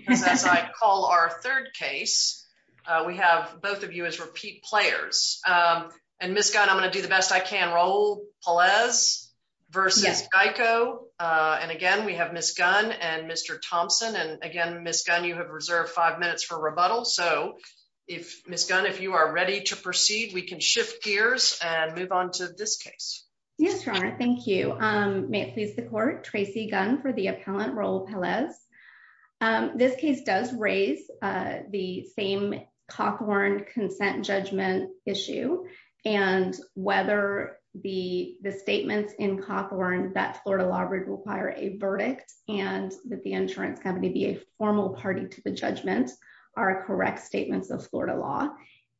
because as I call our third case, we have both of you as repeat players. And Ms. Gunn, I'm gonna do the best I can. Raul Pelaez versus Geico. And again, we have Ms. Gunn and Mr. Thompson. And again, Ms. Gunn, you have reserved five minutes for rebuttal. So if Ms. Gunn, if you are ready to proceed, we can shift gears and move on to this case. Yes, Ron, thank you. May it please the court, Tracy Gunn for the appellant, Raul Pelaez. This case does raise the same Coghorn consent judgment issue. And whether the statements in Coghorn that Florida Law Group require a verdict and that the insurance company be a formal party to the judgment are correct statements of Florida law.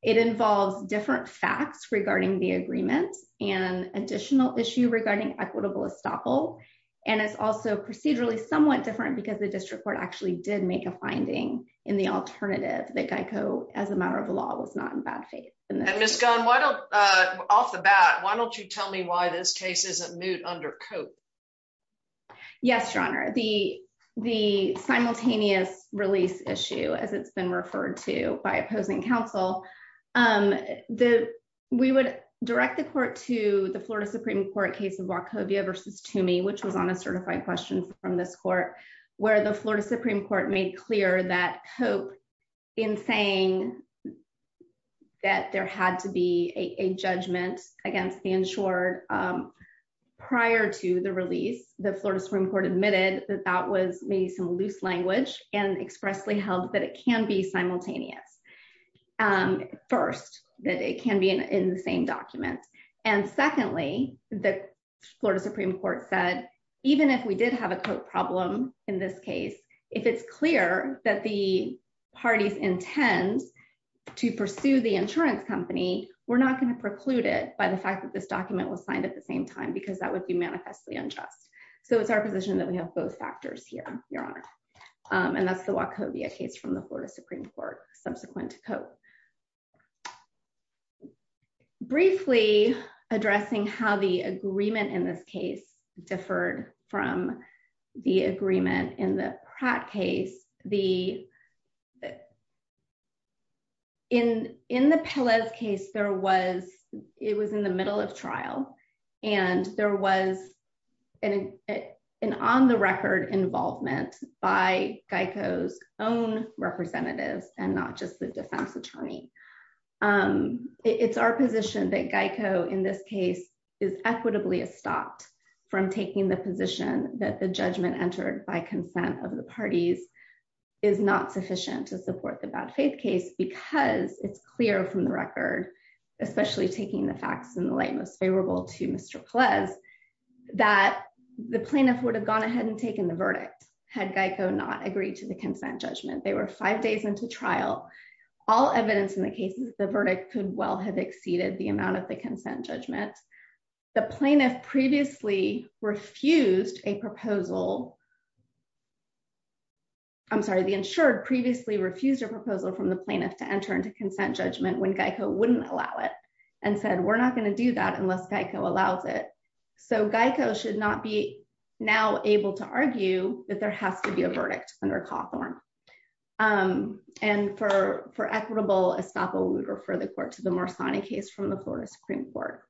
It involves different facts regarding the agreement and additional issue regarding equitable estoppel. And it's also procedurally somewhat different because the district court actually did make a finding in the alternative that Geico as a matter of the law was not in bad faith. And Ms. Gunn, why don't, off the bat, why don't you tell me why this case isn't moot under Cope? Yes, Your Honor. The simultaneous release issue as it's been referred to by opposing counsel, we would direct the court to the Florida Supreme Court case of Wachovia versus Toomey, which was on a certified question from this court, where the Florida Supreme Court made clear that Cope in saying that there had to be a judgment against the insured prior to the release, the Florida Supreme Court admitted that that was maybe some loose language and expressly held that it can be simultaneous. First, that it can be in the same document. And secondly, the Florida Supreme Court said, even if we did have a Cope problem in this case, if it's clear that the parties intend to pursue the insurance company, we're not gonna preclude it by the fact that this document was signed at the same time because that would be manifestly unjust. So it's our position that we have both factors here, Your Honor. And that's the Wachovia case from the Florida Supreme Court subsequent to Cope. So briefly addressing how the agreement in this case differed from the agreement in the Pratt case. In the Pelez case, it was in the middle of trial and there was an on-the-record involvement by Geico's own representatives and not just the defense attorney. It's our position that Geico in this case is equitably stopped from taking the position that the judgment entered by consent of the parties is not sufficient to support the bad faith case because it's clear from the record, especially taking the facts in the light most favorable to Mr. Pelez, that the plaintiff would have gone ahead and taken the verdict had Geico not agreed to the consent judgment. They were five days into trial. All evidence in the cases, the verdict could well have exceeded the amount of the consent judgment. The plaintiff previously refused a proposal. I'm sorry, the insured previously refused a proposal from the plaintiff to enter into consent judgment when Geico wouldn't allow it and said, we're not gonna do that unless Geico allows it. So Geico should not be now able to argue that there has to be a verdict under Cawthorn. And for equitable estoppel, we'd refer the court to the Morsani case from the Florida Supreme Court.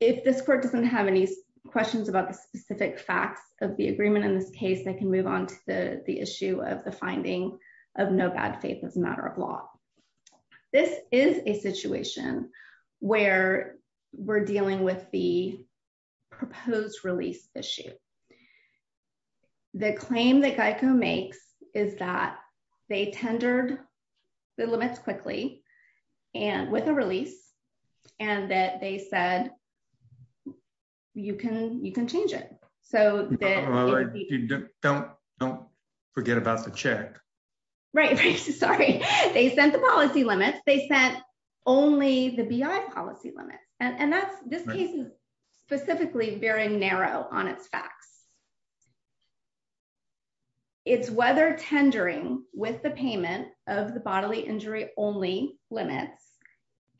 If this court doesn't have any questions about the specific facts of the agreement in this case, they can move on to the issue of the finding of no bad faith as a matter of law. This is a situation where we're dealing with the proposed release issue. The claim that Geico makes is that they tendered the limits quickly and with a release and that they said, you can change it. So that- Don't forget about the check. Right, sorry. They sent the policy limits. They sent only the BI policy limits. And that's, this case is specifically very narrow on its facts. It's whether tendering with the payment of the bodily injury only limits,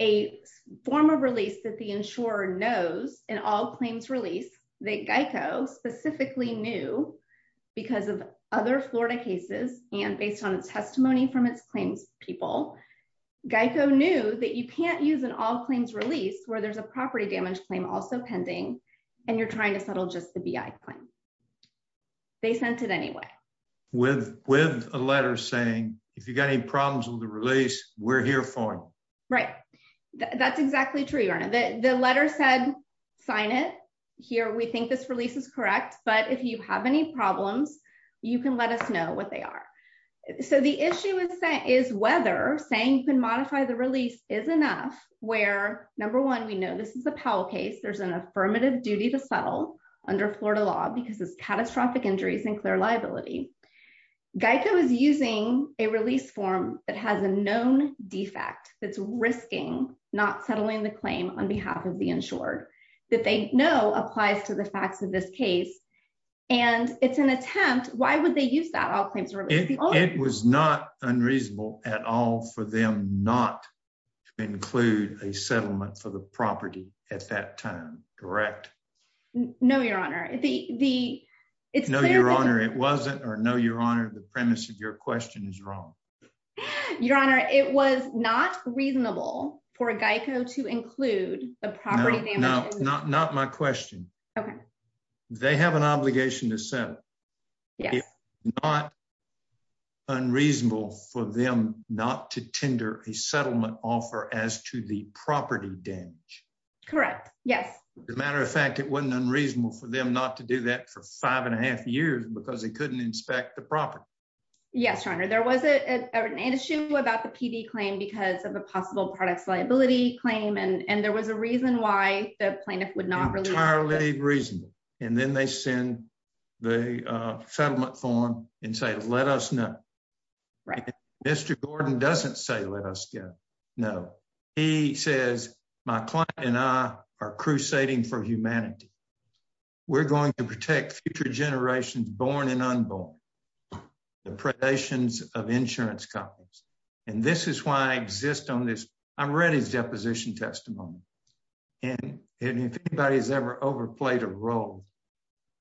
a form of release that the insurer knows in all claims release that Geico specifically knew because of other Florida cases and based on its testimony from its claims people, Geico knew that you can't use an all claims release where there's a property damage claim also pending and you're trying to settle just the BI claim. They sent it anyway. With a letter saying, if you've got any problems with the release, we're here for you. Right, that's exactly true, Your Honor. The letter said, sign it. Here, we think this release is correct, but if you have any problems, you can let us know what they are. So the issue is whether saying you can modify the release is enough where number one, we know this is a Powell case. There's an affirmative duty to settle under Florida law because it's catastrophic injuries and clear liability. Geico is using a release form that has a known defect that's risking not settling the claim on behalf of the insured that they know applies to the facts of this case. And it's an attempt, why would they use that all claims release? It was not unreasonable at all for them not to include a settlement for the property at that time, correct? No, Your Honor, the... No, Your Honor, it wasn't. Or no, Your Honor, the premise of your question is wrong. Your Honor, it was not reasonable for Geico to include a property damage. No, not my question. Okay. They have an obligation to settle. Yes. It's not unreasonable for them not to tender a settlement offer as to the property damage. Correct, yes. As a matter of fact, it wasn't unreasonable for them not to do that for five and a half years because they couldn't inspect the property. Yes, Your Honor, there was an issue about the PD claim because of a possible products liability claim. And there was a reason why the plaintiff would not release- Entirely reasonable. And then they send the settlement form and say, let us know. Right. Mr. Gordon doesn't say, let us know. He says, my client and I are crusading for humanity. We're going to protect future generations, born and unborn, the predations of insurance companies. And this is why I exist on this. I've read his deposition testimony. And if anybody has ever overplayed a role,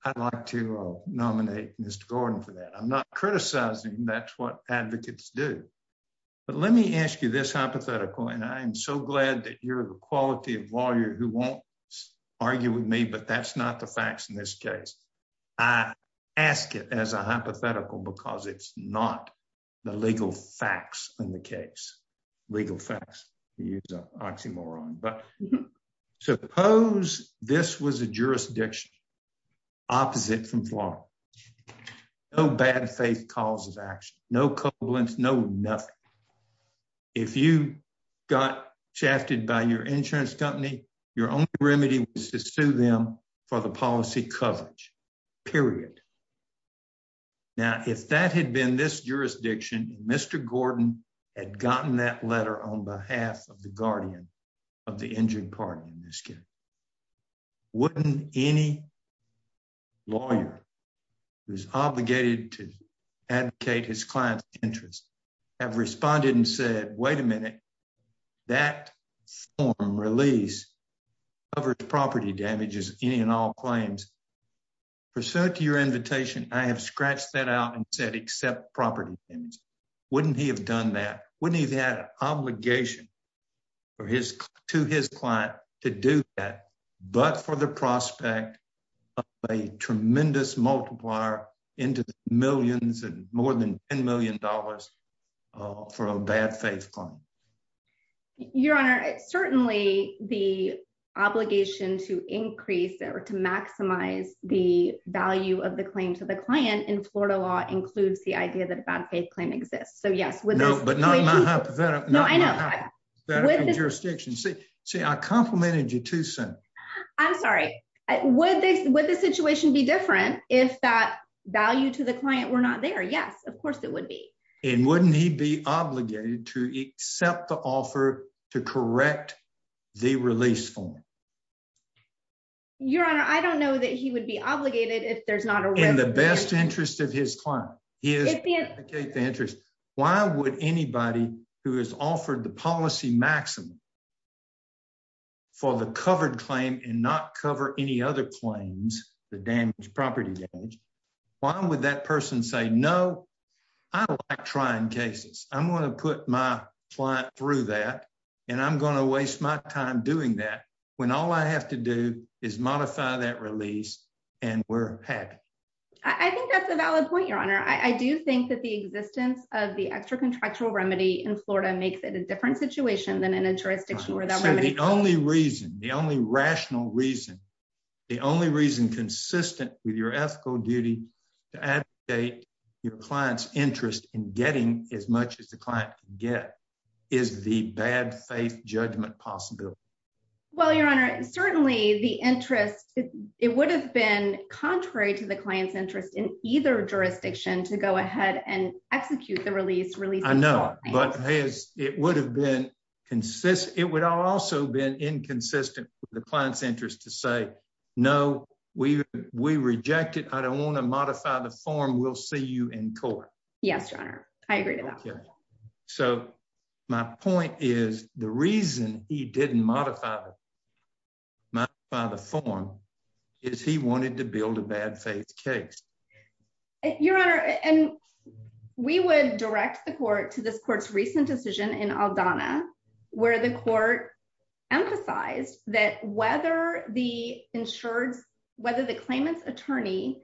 I'd like to nominate Mr. Gordon for that. I'm not criticizing him, that's what advocates do. But let me ask you this hypothetical, and I am so glad that you're the quality of lawyer who won't argue with me, but that's not the facts in this case. I ask it as a hypothetical because it's not the legal facts in the case. Legal facts, you use an oxymoron. But suppose this was a jurisdiction opposite from Florida. No bad faith causes action. No covalence, no nothing. If you got shafted by your insurance company, your only remedy was to sue them for the policy coverage, period. Now, if that had been this jurisdiction, Mr. Gordon had gotten that letter on behalf of the guardian of the injured party in this case. Wouldn't any lawyer who's obligated to advocate his client's interest have responded and said, wait a minute, that form release covers property damages, any and all claims. Pursuant to your invitation, I have scratched that out and said, accept property damage. Wouldn't he have done that? Wouldn't he have had an obligation to his client to do that, but for the prospect of a tremendous multiplier into the millions and more than $10 million for a bad faith claim? Your Honor, certainly the obligation to increase or to maximize the value of the claim to the client in Florida law includes the idea that a bad faith claim exists. So yes, with this- No, but not in my hypothetical jurisdiction. See, I complimented you too soon. I'm sorry. Would the situation be different if that value to the client were not there? Yes, of course it would be. And wouldn't he be obligated to accept the offer to correct the release form? Your Honor, I don't know that he would be obligated if there's not a- In the best interest of his client. He is- Advocate the interest. Why would anybody who has offered the policy maximum for the covered claim and not cover any other claims, the damage, property damage, why would that person say, no, I don't like trying cases. I'm gonna put my client through that and I'm gonna waste my time doing that when all I have to do is modify that release and we're happy. I think that's a valid point, Your Honor. I do think that the existence of the extracontractual remedy in Florida makes it a different situation than in a jurisdiction where that remedy- So the only reason, the only rational reason, the only reason consistent with your ethical duty to advocate your client's interest in getting as much as the client can get is the bad faith judgment possibility. Well, Your Honor, certainly the interest, it would have been contrary to the client's interest in either jurisdiction to go ahead and execute the release- I know, but it would have been consistent. It would also been inconsistent with the client's interest to say, no, we reject it. I don't wanna modify the form. We'll see you in court. Yes, Your Honor. I agree to that. So my point is the reason he didn't modify the form is he wanted to build a bad faith case. Your Honor, and we would direct the court to this court's recent decision in Aldana where the court emphasized that whether the insurance, whether the claimant's attorney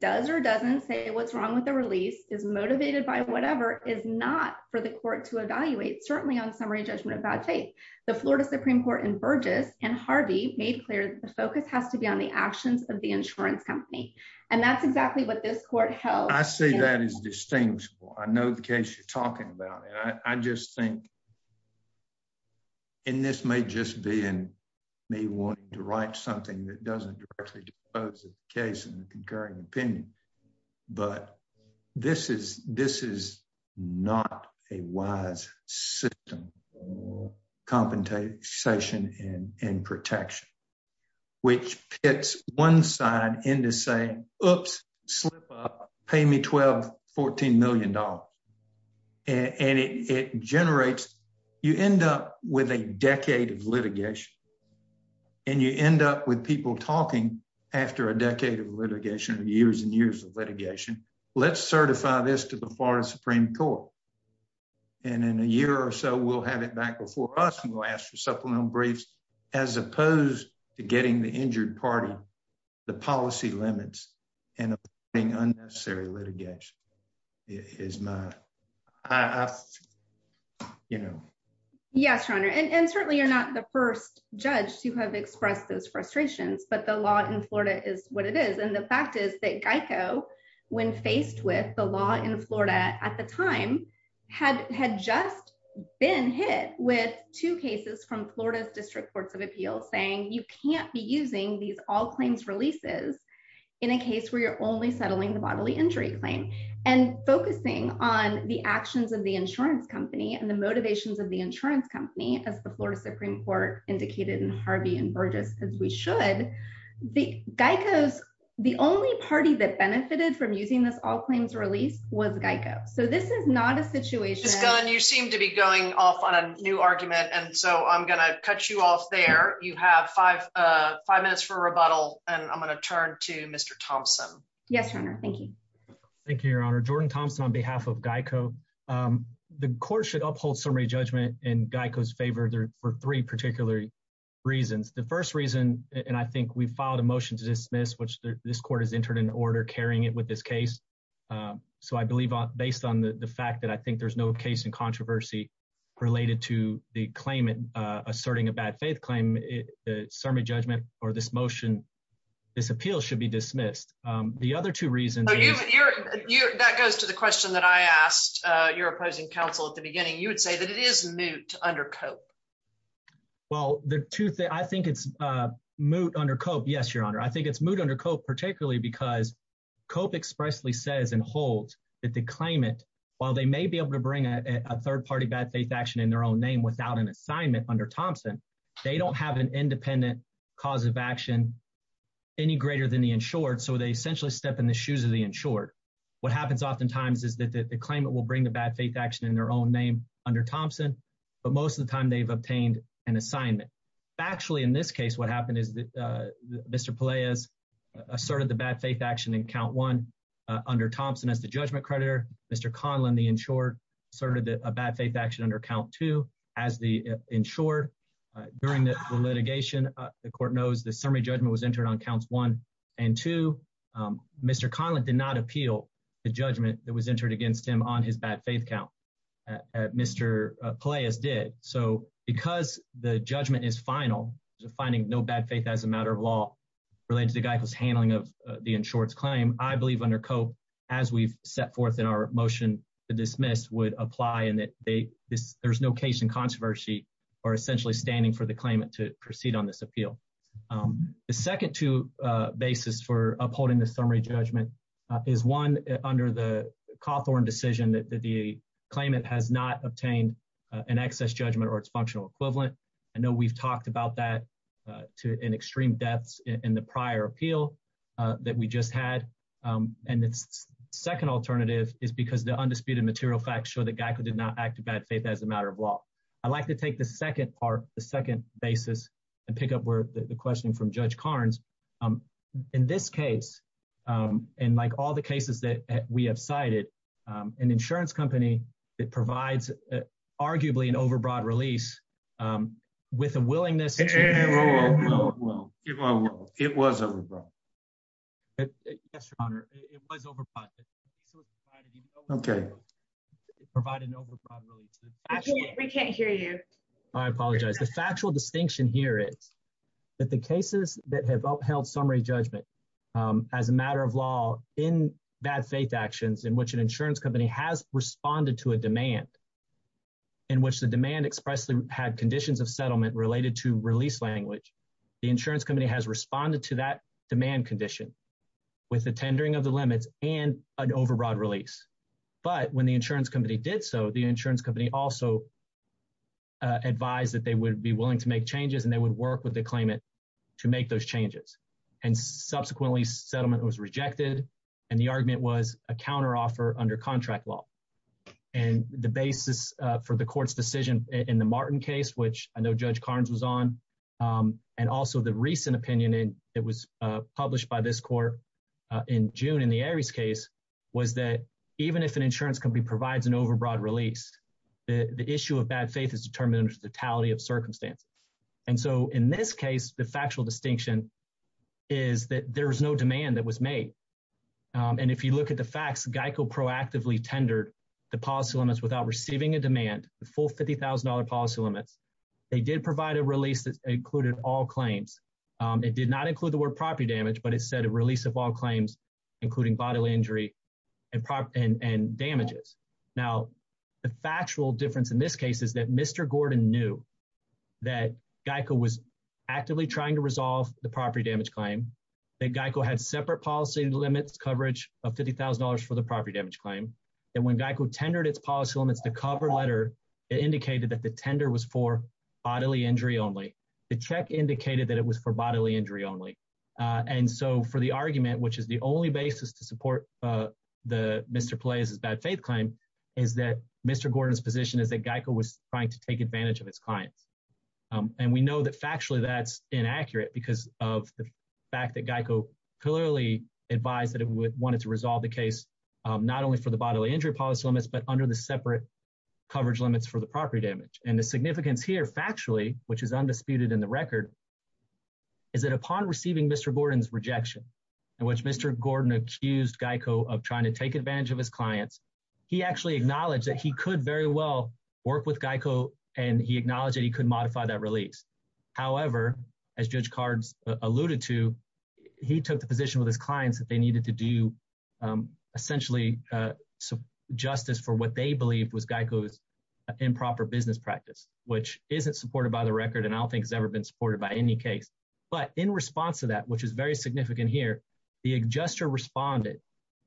does or doesn't say what's wrong with the release, is motivated by whatever, is not for the court to evaluate, certainly on summary judgment of bad faith. The Florida Supreme Court in Burgess and Harvey made clear that the focus has to be on the actions of the insurance company. And that's exactly what this court held- I say that is distinguishable. I know the case you're talking about. And I just think, and this may just be in me wanting to write something that doesn't directly pose a case in the concurring opinion, but this is not a wise system compensation and protection, which pits one side into saying, oops, slip up, pay me $12, $14 million. And it generates, you end up with a decade of litigation and you end up with people talking after a decade of litigation, years and years of litigation. Let's certify this to the Florida Supreme Court. And in a year or so, we'll have it back before us and we'll ask for supplemental briefs as opposed to getting the injured party, the policy limits and being unnecessary litigation. It is my, you know. Yes, Your Honor. And certainly you're not the first judge to have expressed those frustrations, but the law in Florida is what it is. And the fact is that GEICO, when faced with the law in Florida at the time, had just been hit with two cases from Florida's District Courts of Appeals saying you can't be using these all claims releases in a case where you're only settling the bodily injury claim. And focusing on the actions of the insurance company and the motivations of the insurance company as the Florida Supreme Court indicated in Harvey and Burgess, as we should, the GEICO's, the only party that benefited from using this all claims release was GEICO. So this is not a situation- Ms. Gunn, you seem to be going off on a new argument. And so I'm gonna cut you off there. You have five minutes for rebuttal and I'm gonna turn to Mr. Thompson. Yes, Your Honor, thank you. Thank you, Your Honor. Jordan Thompson on behalf of GEICO. The court should uphold summary judgment in GEICO's favor for three particular reasons. The first reason, and I think we filed a motion to dismiss, which this court has entered an order carrying it with this case. So I believe based on the fact that I think there's no case in controversy related to the claim, asserting a bad faith claim, the summary judgment or this motion, this appeal should be dismissed. The other two reasons- That goes to the question that I asked your opposing counsel at the beginning. You would say that it is moot under Cope. Well, the two things, I think it's moot under Cope. Yes, Your Honor, I think it's moot under Cope particularly because Cope expressly says and holds that the claimant, while they may be able to bring a third-party bad faith action in their own name without an assignment under Thompson, they don't have an independent cause of action any greater than the insured. So they essentially step in the shoes of the insured. What happens oftentimes is that the claimant will bring the bad faith action in their own name under Thompson, but most of the time they've obtained an assignment. Factually, in this case, what happened is that Mr. Peleas asserted the bad faith action in count one under Thompson as the judgment creditor, Mr. Conlin, the insured, asserted a bad faith action under count two as the insured. During the litigation, the court knows the summary judgment was entered on counts one and two. Mr. Conlin did not appeal the judgment that was entered against him on his bad faith count. Mr. Peleas did. So because the judgment is final, finding no bad faith as a matter of law related to the guy who's handling of the insured's claim, I believe under Cope, as we've set forth in our motion to dismiss, would apply in that there's no case in controversy or essentially standing for the claimant to proceed on this appeal. The second two basis for upholding the summary judgment is one under the Cawthorn decision that the claimant has not obtained an excess judgment or its functional equivalent. I know we've talked about that in extreme depths in the prior appeal that we just had. And the second alternative is because the undisputed material facts show that Geico did not act to bad faith as a matter of law. I'd like to take the second part, the second basis and pick up where the question from Judge Carnes. In this case, and like all the cases that we have cited, an insurance company that provides arguably an overbroad release with a willingness- It was overbroad. Yes, your honor, it was overbroad. Okay. Provided an overbroad release. We can't hear you. I apologize. The factual distinction here is that the cases that have upheld summary judgment as a matter of law in bad faith actions in which an insurance company has responded to a demand, in which the demand expressly had conditions of settlement related to release language, the insurance company has responded to that demand condition with the tendering of the limits and an overbroad release. But when the insurance company did so, the insurance company also advised that they would be willing to make changes and they would work with the claimant to make those changes. And subsequently, settlement was rejected. And the argument was a counteroffer under contract law. And the basis for the court's decision in the Martin case, which I know Judge Carnes was on, and also the recent opinion that was published by this court in June in the Aries case, was that even if an insurance company provides an overbroad release, the issue of bad faith is determined under the totality of circumstances. And so in this case, the factual distinction is that there was no demand that was made. And if you look at the facts, GEICO proactively tendered the policy limits without receiving a demand, the full $50,000 policy limits. They did provide a release that included all claims. It did not include the word property damage, but it said a release of all claims, including bodily injury and damages. Now, the factual difference in this case is that Mr. Gordon knew that GEICO was actively trying to resolve the property damage claim, that GEICO had separate policy limits coverage of $50,000 for the property damage claim. And when GEICO tendered its policy limits, the cover letter indicated that the tender was for bodily injury only. The check indicated that it was for bodily injury only. And so for the argument, which is the only basis to support the Mr. Pelaez's bad faith claim, is that Mr. Gordon's position is that GEICO was trying to take advantage of its clients. And we know that factually that's inaccurate because of the fact that GEICO clearly advised that it would want it to resolve the case, not only for the bodily injury policy limits, but under the separate coverage limits for the property damage. And the significance here factually, which is undisputed in the record, is that upon receiving Mr. Gordon's rejection, in which Mr. Gordon accused GEICO of trying to take advantage of his clients, he actually acknowledged that he could very well work with GEICO and he acknowledged that he could modify that release. However, as Judge Cards alluded to, he took the position with his clients that they needed to do essentially justice for what they believed was GEICO's improper business practice, which isn't supported by the record and I don't think has ever been supported by GEICO. But in response to that, which is very significant here, the adjuster responded,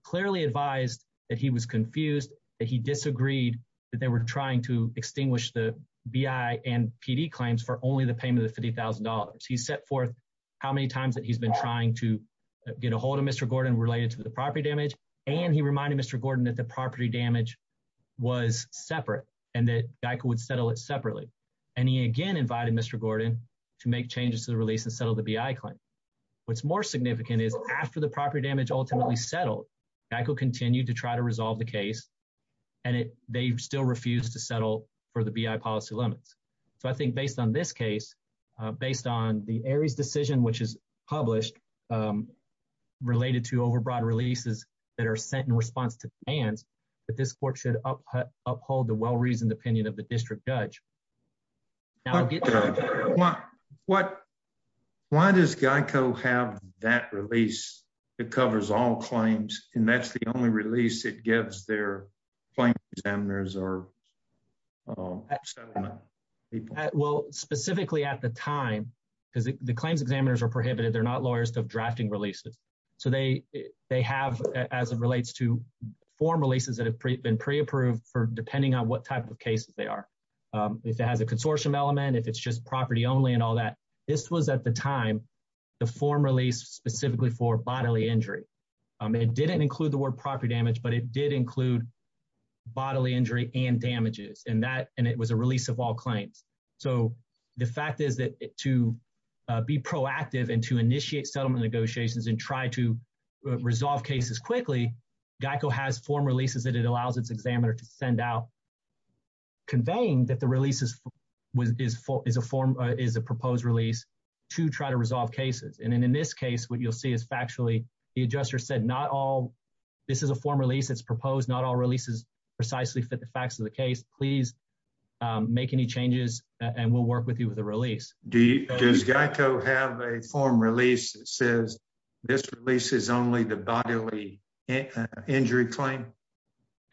clearly advised that he was confused, that he disagreed that they were trying to extinguish the BI and PD claims for only the payment of $50,000. He set forth how many times that he's been trying to get ahold of Mr. Gordon related to the property damage. And he reminded Mr. Gordon that the property damage was separate and that GEICO would settle it separately. And he again invited Mr. Gordon to make changes to the release and settle the BI claim. What's more significant is after the property damage ultimately settled, GEICO continued to try to resolve the case and they still refused to settle for the BI policy limits. So I think based on this case, based on the ARIES decision, which is published related to overbroad releases that are sent in response to demands, that this court should uphold the well-reasoned opinion of the district judge. Why does GEICO have that release? It covers all claims and that's the only release it gives their claim examiners or settlement people. Well, specifically at the time, because the claims examiners are prohibited. They're not lawyers of drafting releases. So they have, as it relates to form releases that have been pre-approved for depending on what type of cases they are. If it has a consortium element, if it's just property only and all that, this was at the time the form release specifically for bodily injury. It didn't include the word property damage, but it did include bodily injury and damages and it was a release of all claims. So the fact is that to be proactive and to initiate settlement negotiations and try to resolve cases quickly, GEICO has form releases that it allows its examiner to send out conveying that the release is a proposed release to try to resolve cases. And in this case, what you'll see is factually, the adjuster said, not all, this is a form release that's proposed, not all releases precisely fit the facts of the case. Please make any changes and we'll work with you with a release. Does GEICO have a form release that says, this release is only the bodily injury claim?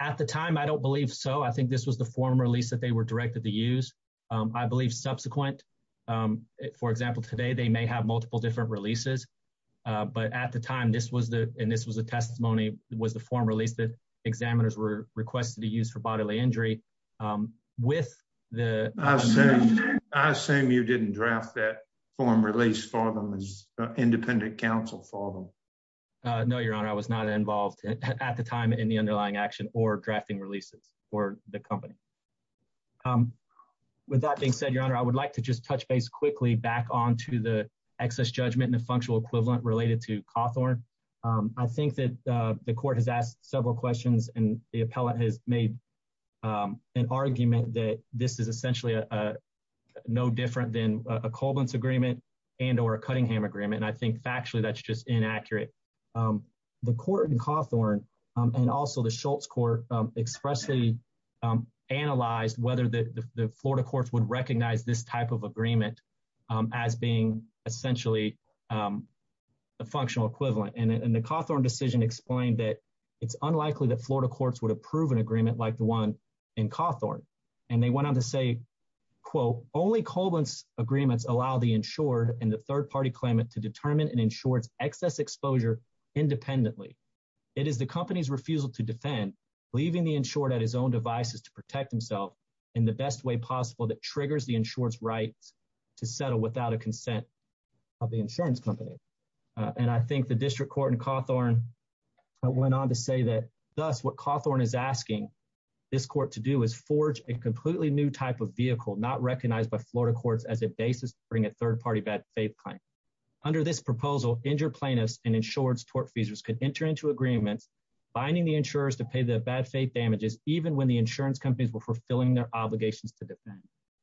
At the time, I don't believe so. I think this was the form release that they were directed to use. I believe subsequent, for example, today, they may have multiple different releases, but at the time this was the, and this was a testimony was the form release that examiners were requested to use for bodily injury with the- I assume you didn't draft that form release as independent counsel for them. No, your honor, I was not involved at the time in the underlying action or drafting releases for the company. With that being said, your honor, I would like to just touch base quickly back onto the excess judgment and the functional equivalent related to Cawthorn. I think that the court has asked several questions and the appellate has made an argument that this is essentially no different than a Colvin's agreement and or a Cunningham agreement. And I think factually, that's just inaccurate. The court in Cawthorn and also the Schultz court expressly analyzed whether the Florida courts would recognize this type of agreement as being essentially a functional equivalent. And the Cawthorn decision explained that it's unlikely that Florida courts would approve an agreement like the one in Cawthorn. And they went on to say, quote, only Colvin's agreements allow the insured and the third party claimant to determine an insured's excess exposure independently. It is the company's refusal to defend leaving the insured at his own devices to protect himself in the best way possible that triggers the insured's rights to settle without a consent of the insurance company. And I think the district court in Cawthorn went on to say that, thus what Cawthorn is asking this court to do is forge a completely new type of vehicle not recognized by Florida courts as a basis to bring a third party bad faith claim. Under this proposal, injured plaintiffs and insured's tort feasors could enter into agreements, binding the insurers to pay the bad faith damages even when the insurance companies were fulfilling their obligations to defend.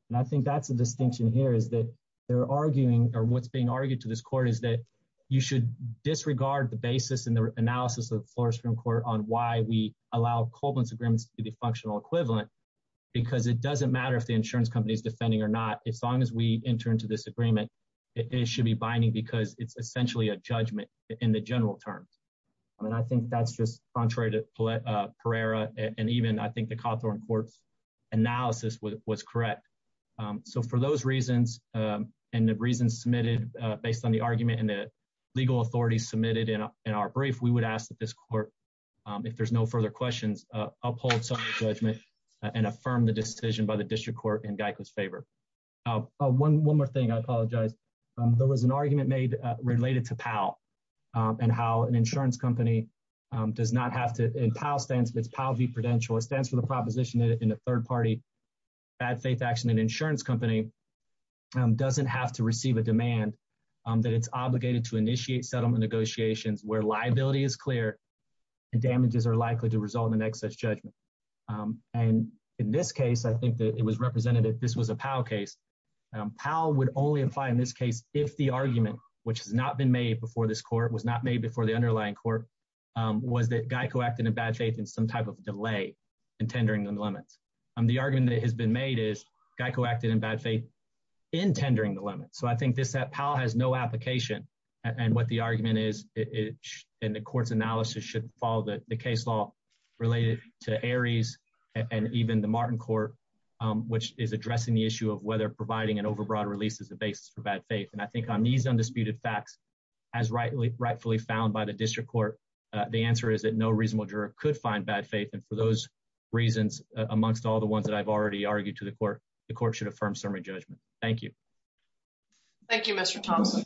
And I think that's the distinction here is that they're arguing or what's being argued to this court is that you should disregard the basis and the analysis of Florida Supreme Court on why we allow Colvin's agreements to be the functional equivalent because it doesn't matter if the insurance company is defending or not. As long as we enter into this agreement, it should be binding because it's essentially a judgment in the general terms. I mean, I think that's just contrary to Pereira and even I think the Cawthorn court's analysis was correct. So for those reasons and the reasons submitted based on the argument and the legal authority submitted in our brief, we would ask that this court, if there's no further questions, uphold some of the judgment and affirm the decision by the district court in Geico's favor. One more thing, I apologize. There was an argument made related to PAL and how an insurance company does not have to, in PAL stands, it's PAL v. Prudential. It stands for the proposition that in a third party bad faith action, an insurance company doesn't have to receive a demand that it's obligated to initiate settlement negotiations where liability is clear and damages are likely to result in excess judgment. And in this case, I think that it was representative, this was a PAL case. PAL would only apply in this case if the argument, which has not been made before this court, was not made before the underlying court, was that Geico acted in bad faith in some type of delay in tendering the limits. The argument that has been made is Geico acted in bad faith in tendering the limits. So I think this PAL has no application and what the argument is in the court's analysis should follow the case law related to Aries and even the Martin Court, which is addressing the issue of whether providing an overbroad release is the basis for bad faith. And I think on these undisputed facts, as rightfully found by the district court, the answer is that no reasonable juror could find bad faith. And for those reasons, amongst all the ones that I've already argued to the court, the court should affirm summary judgment. Thank you. Thank you, Mr. Thompson.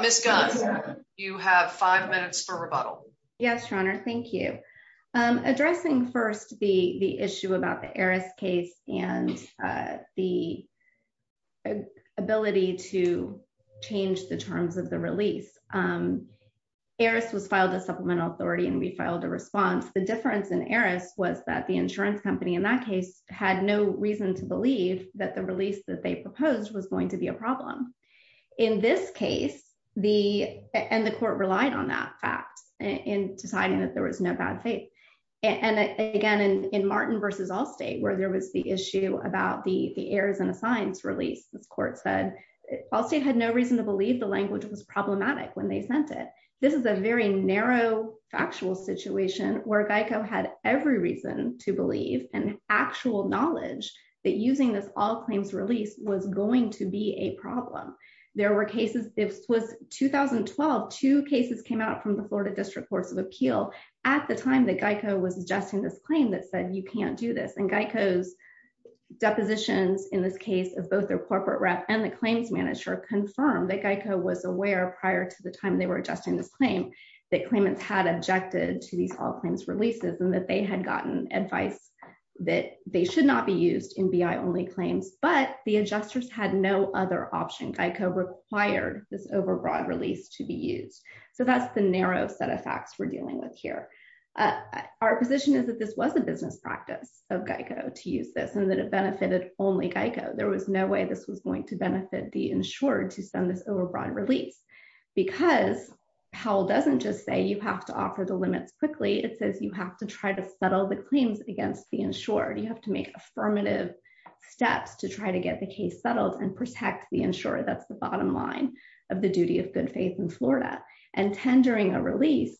Ms. Gunn, you have five minutes for rebuttal. Yes, Your Honor, thank you. Addressing first the issue about the Aries case and the ability to change the terms of the release, Aries was filed as supplemental authority and we filed a response. The difference in Aries was that the insurance company in that case had no reason to believe that the release that they proposed was going to be a problem. In this case, and the court relied on that fact in deciding that there was no bad faith. And again, in Martin versus Allstate, where there was the issue about the Aries and Assigns release, this court said Allstate had no reason to believe the language was problematic when they sent it. This is a very narrow factual situation where Geico had every reason to believe and actual knowledge that using this All Claims release was going to be a problem. There were cases, it was 2012, two cases came out from the Florida District Courts of Appeal at the time that Geico was adjusting this claim that said, you can't do this. And Geico's depositions in this case of both their corporate rep and the claims manager confirmed that Geico was aware prior to the time they were adjusting this claim that claimants had objected to these All Claims releases and that they had gotten advice that they should not be used in BI only claims, but the adjusters had no other option. Geico required this overbroad release to be used. So that's the narrow set of facts we're dealing with here. Our position is that this was a business practice of Geico to use this and that it benefited only Geico. There was no way this was going to benefit the insured to send this overbroad release because Powell doesn't just say you have to offer the limits quickly. It says you have to try to settle the claims against the insured. You have to make affirmative steps to try to get the case settled and protect the insured. That's the bottom line of the duty of good faith in Florida and tendering a release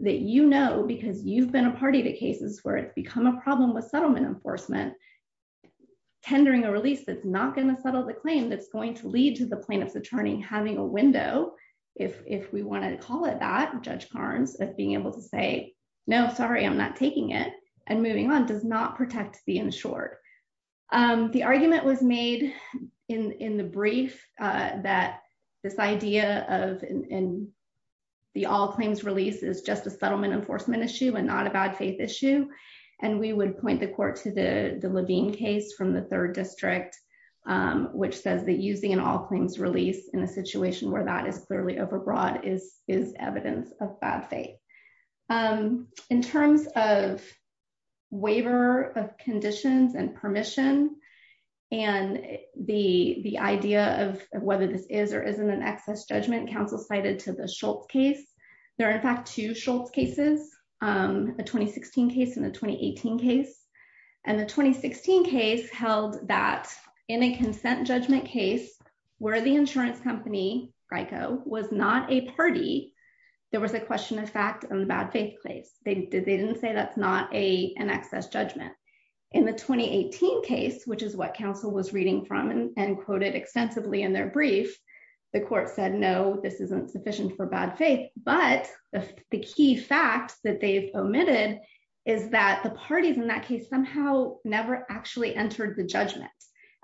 that you know, because you've been a party to cases where it's become a problem with settlement enforcement, tendering a release that's not going to settle the claim that's going to lead to the plaintiff's attorney having a window, if we want to call it that, Judge Carnes of being able to say, no, sorry, I'm not taking it. And moving on does not protect the insured. The argument was made in the brief that this idea of the all claims release is just a settlement enforcement issue and not a bad faith issue. And we would point the court to the Levine case from the third district, which says that using an all claims release in a situation where that is clearly overbroad is evidence of bad faith. In terms of waiver of conditions and permission and the idea of whether this is or isn't an excess judgment counsel cited to the Schultz case. There are in fact two Schultz cases, a 2016 case and a 2018 case. And the 2016 case held that in a consent judgment case where the insurance company, Grico, was not a party, there was a question of fact in the bad faith case. They didn't say that's not an excess judgment. In the 2018 case, which is what counsel was reading from and quoted extensively in their brief, the court said, no, this isn't sufficient for bad faith. But the key facts that they've omitted is that the parties in that case somehow never actually entered the judgment.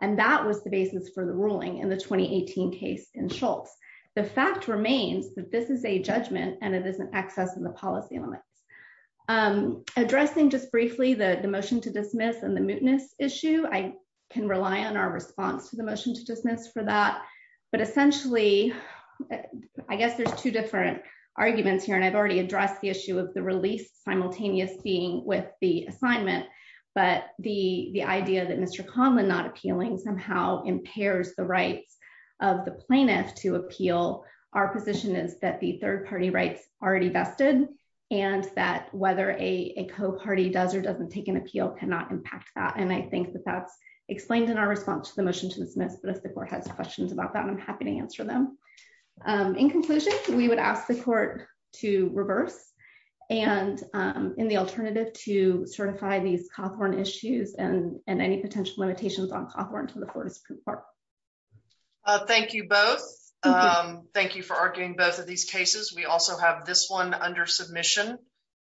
And that was the basis for the ruling in the 2018 case in Schultz. The fact remains that this is a judgment and it isn't excess in the policy elements. Addressing just briefly the motion to dismiss and the mootness issue, I can rely on our response to the motion to dismiss for that. But essentially, I guess there's two different arguments here and I've already addressed the issue of the release simultaneous being with the assignment, but the idea that Mr. Conlin not appealing somehow impairs the rights of the plaintiff to appeal our position is that the third party rights already vested and that whether a co-party does or doesn't take an appeal cannot impact that. And I think that that's explained in our response to the motion to dismiss, but if the court has questions about that, I'm happy to answer them. In conclusion, we would ask the court to reverse and in the alternative to certify these Cawthorn issues and any potential limitations on Cawthorn to the Fortis Proof Part. Thank you both. Thank you for arguing both of these cases. We also have this one under submission.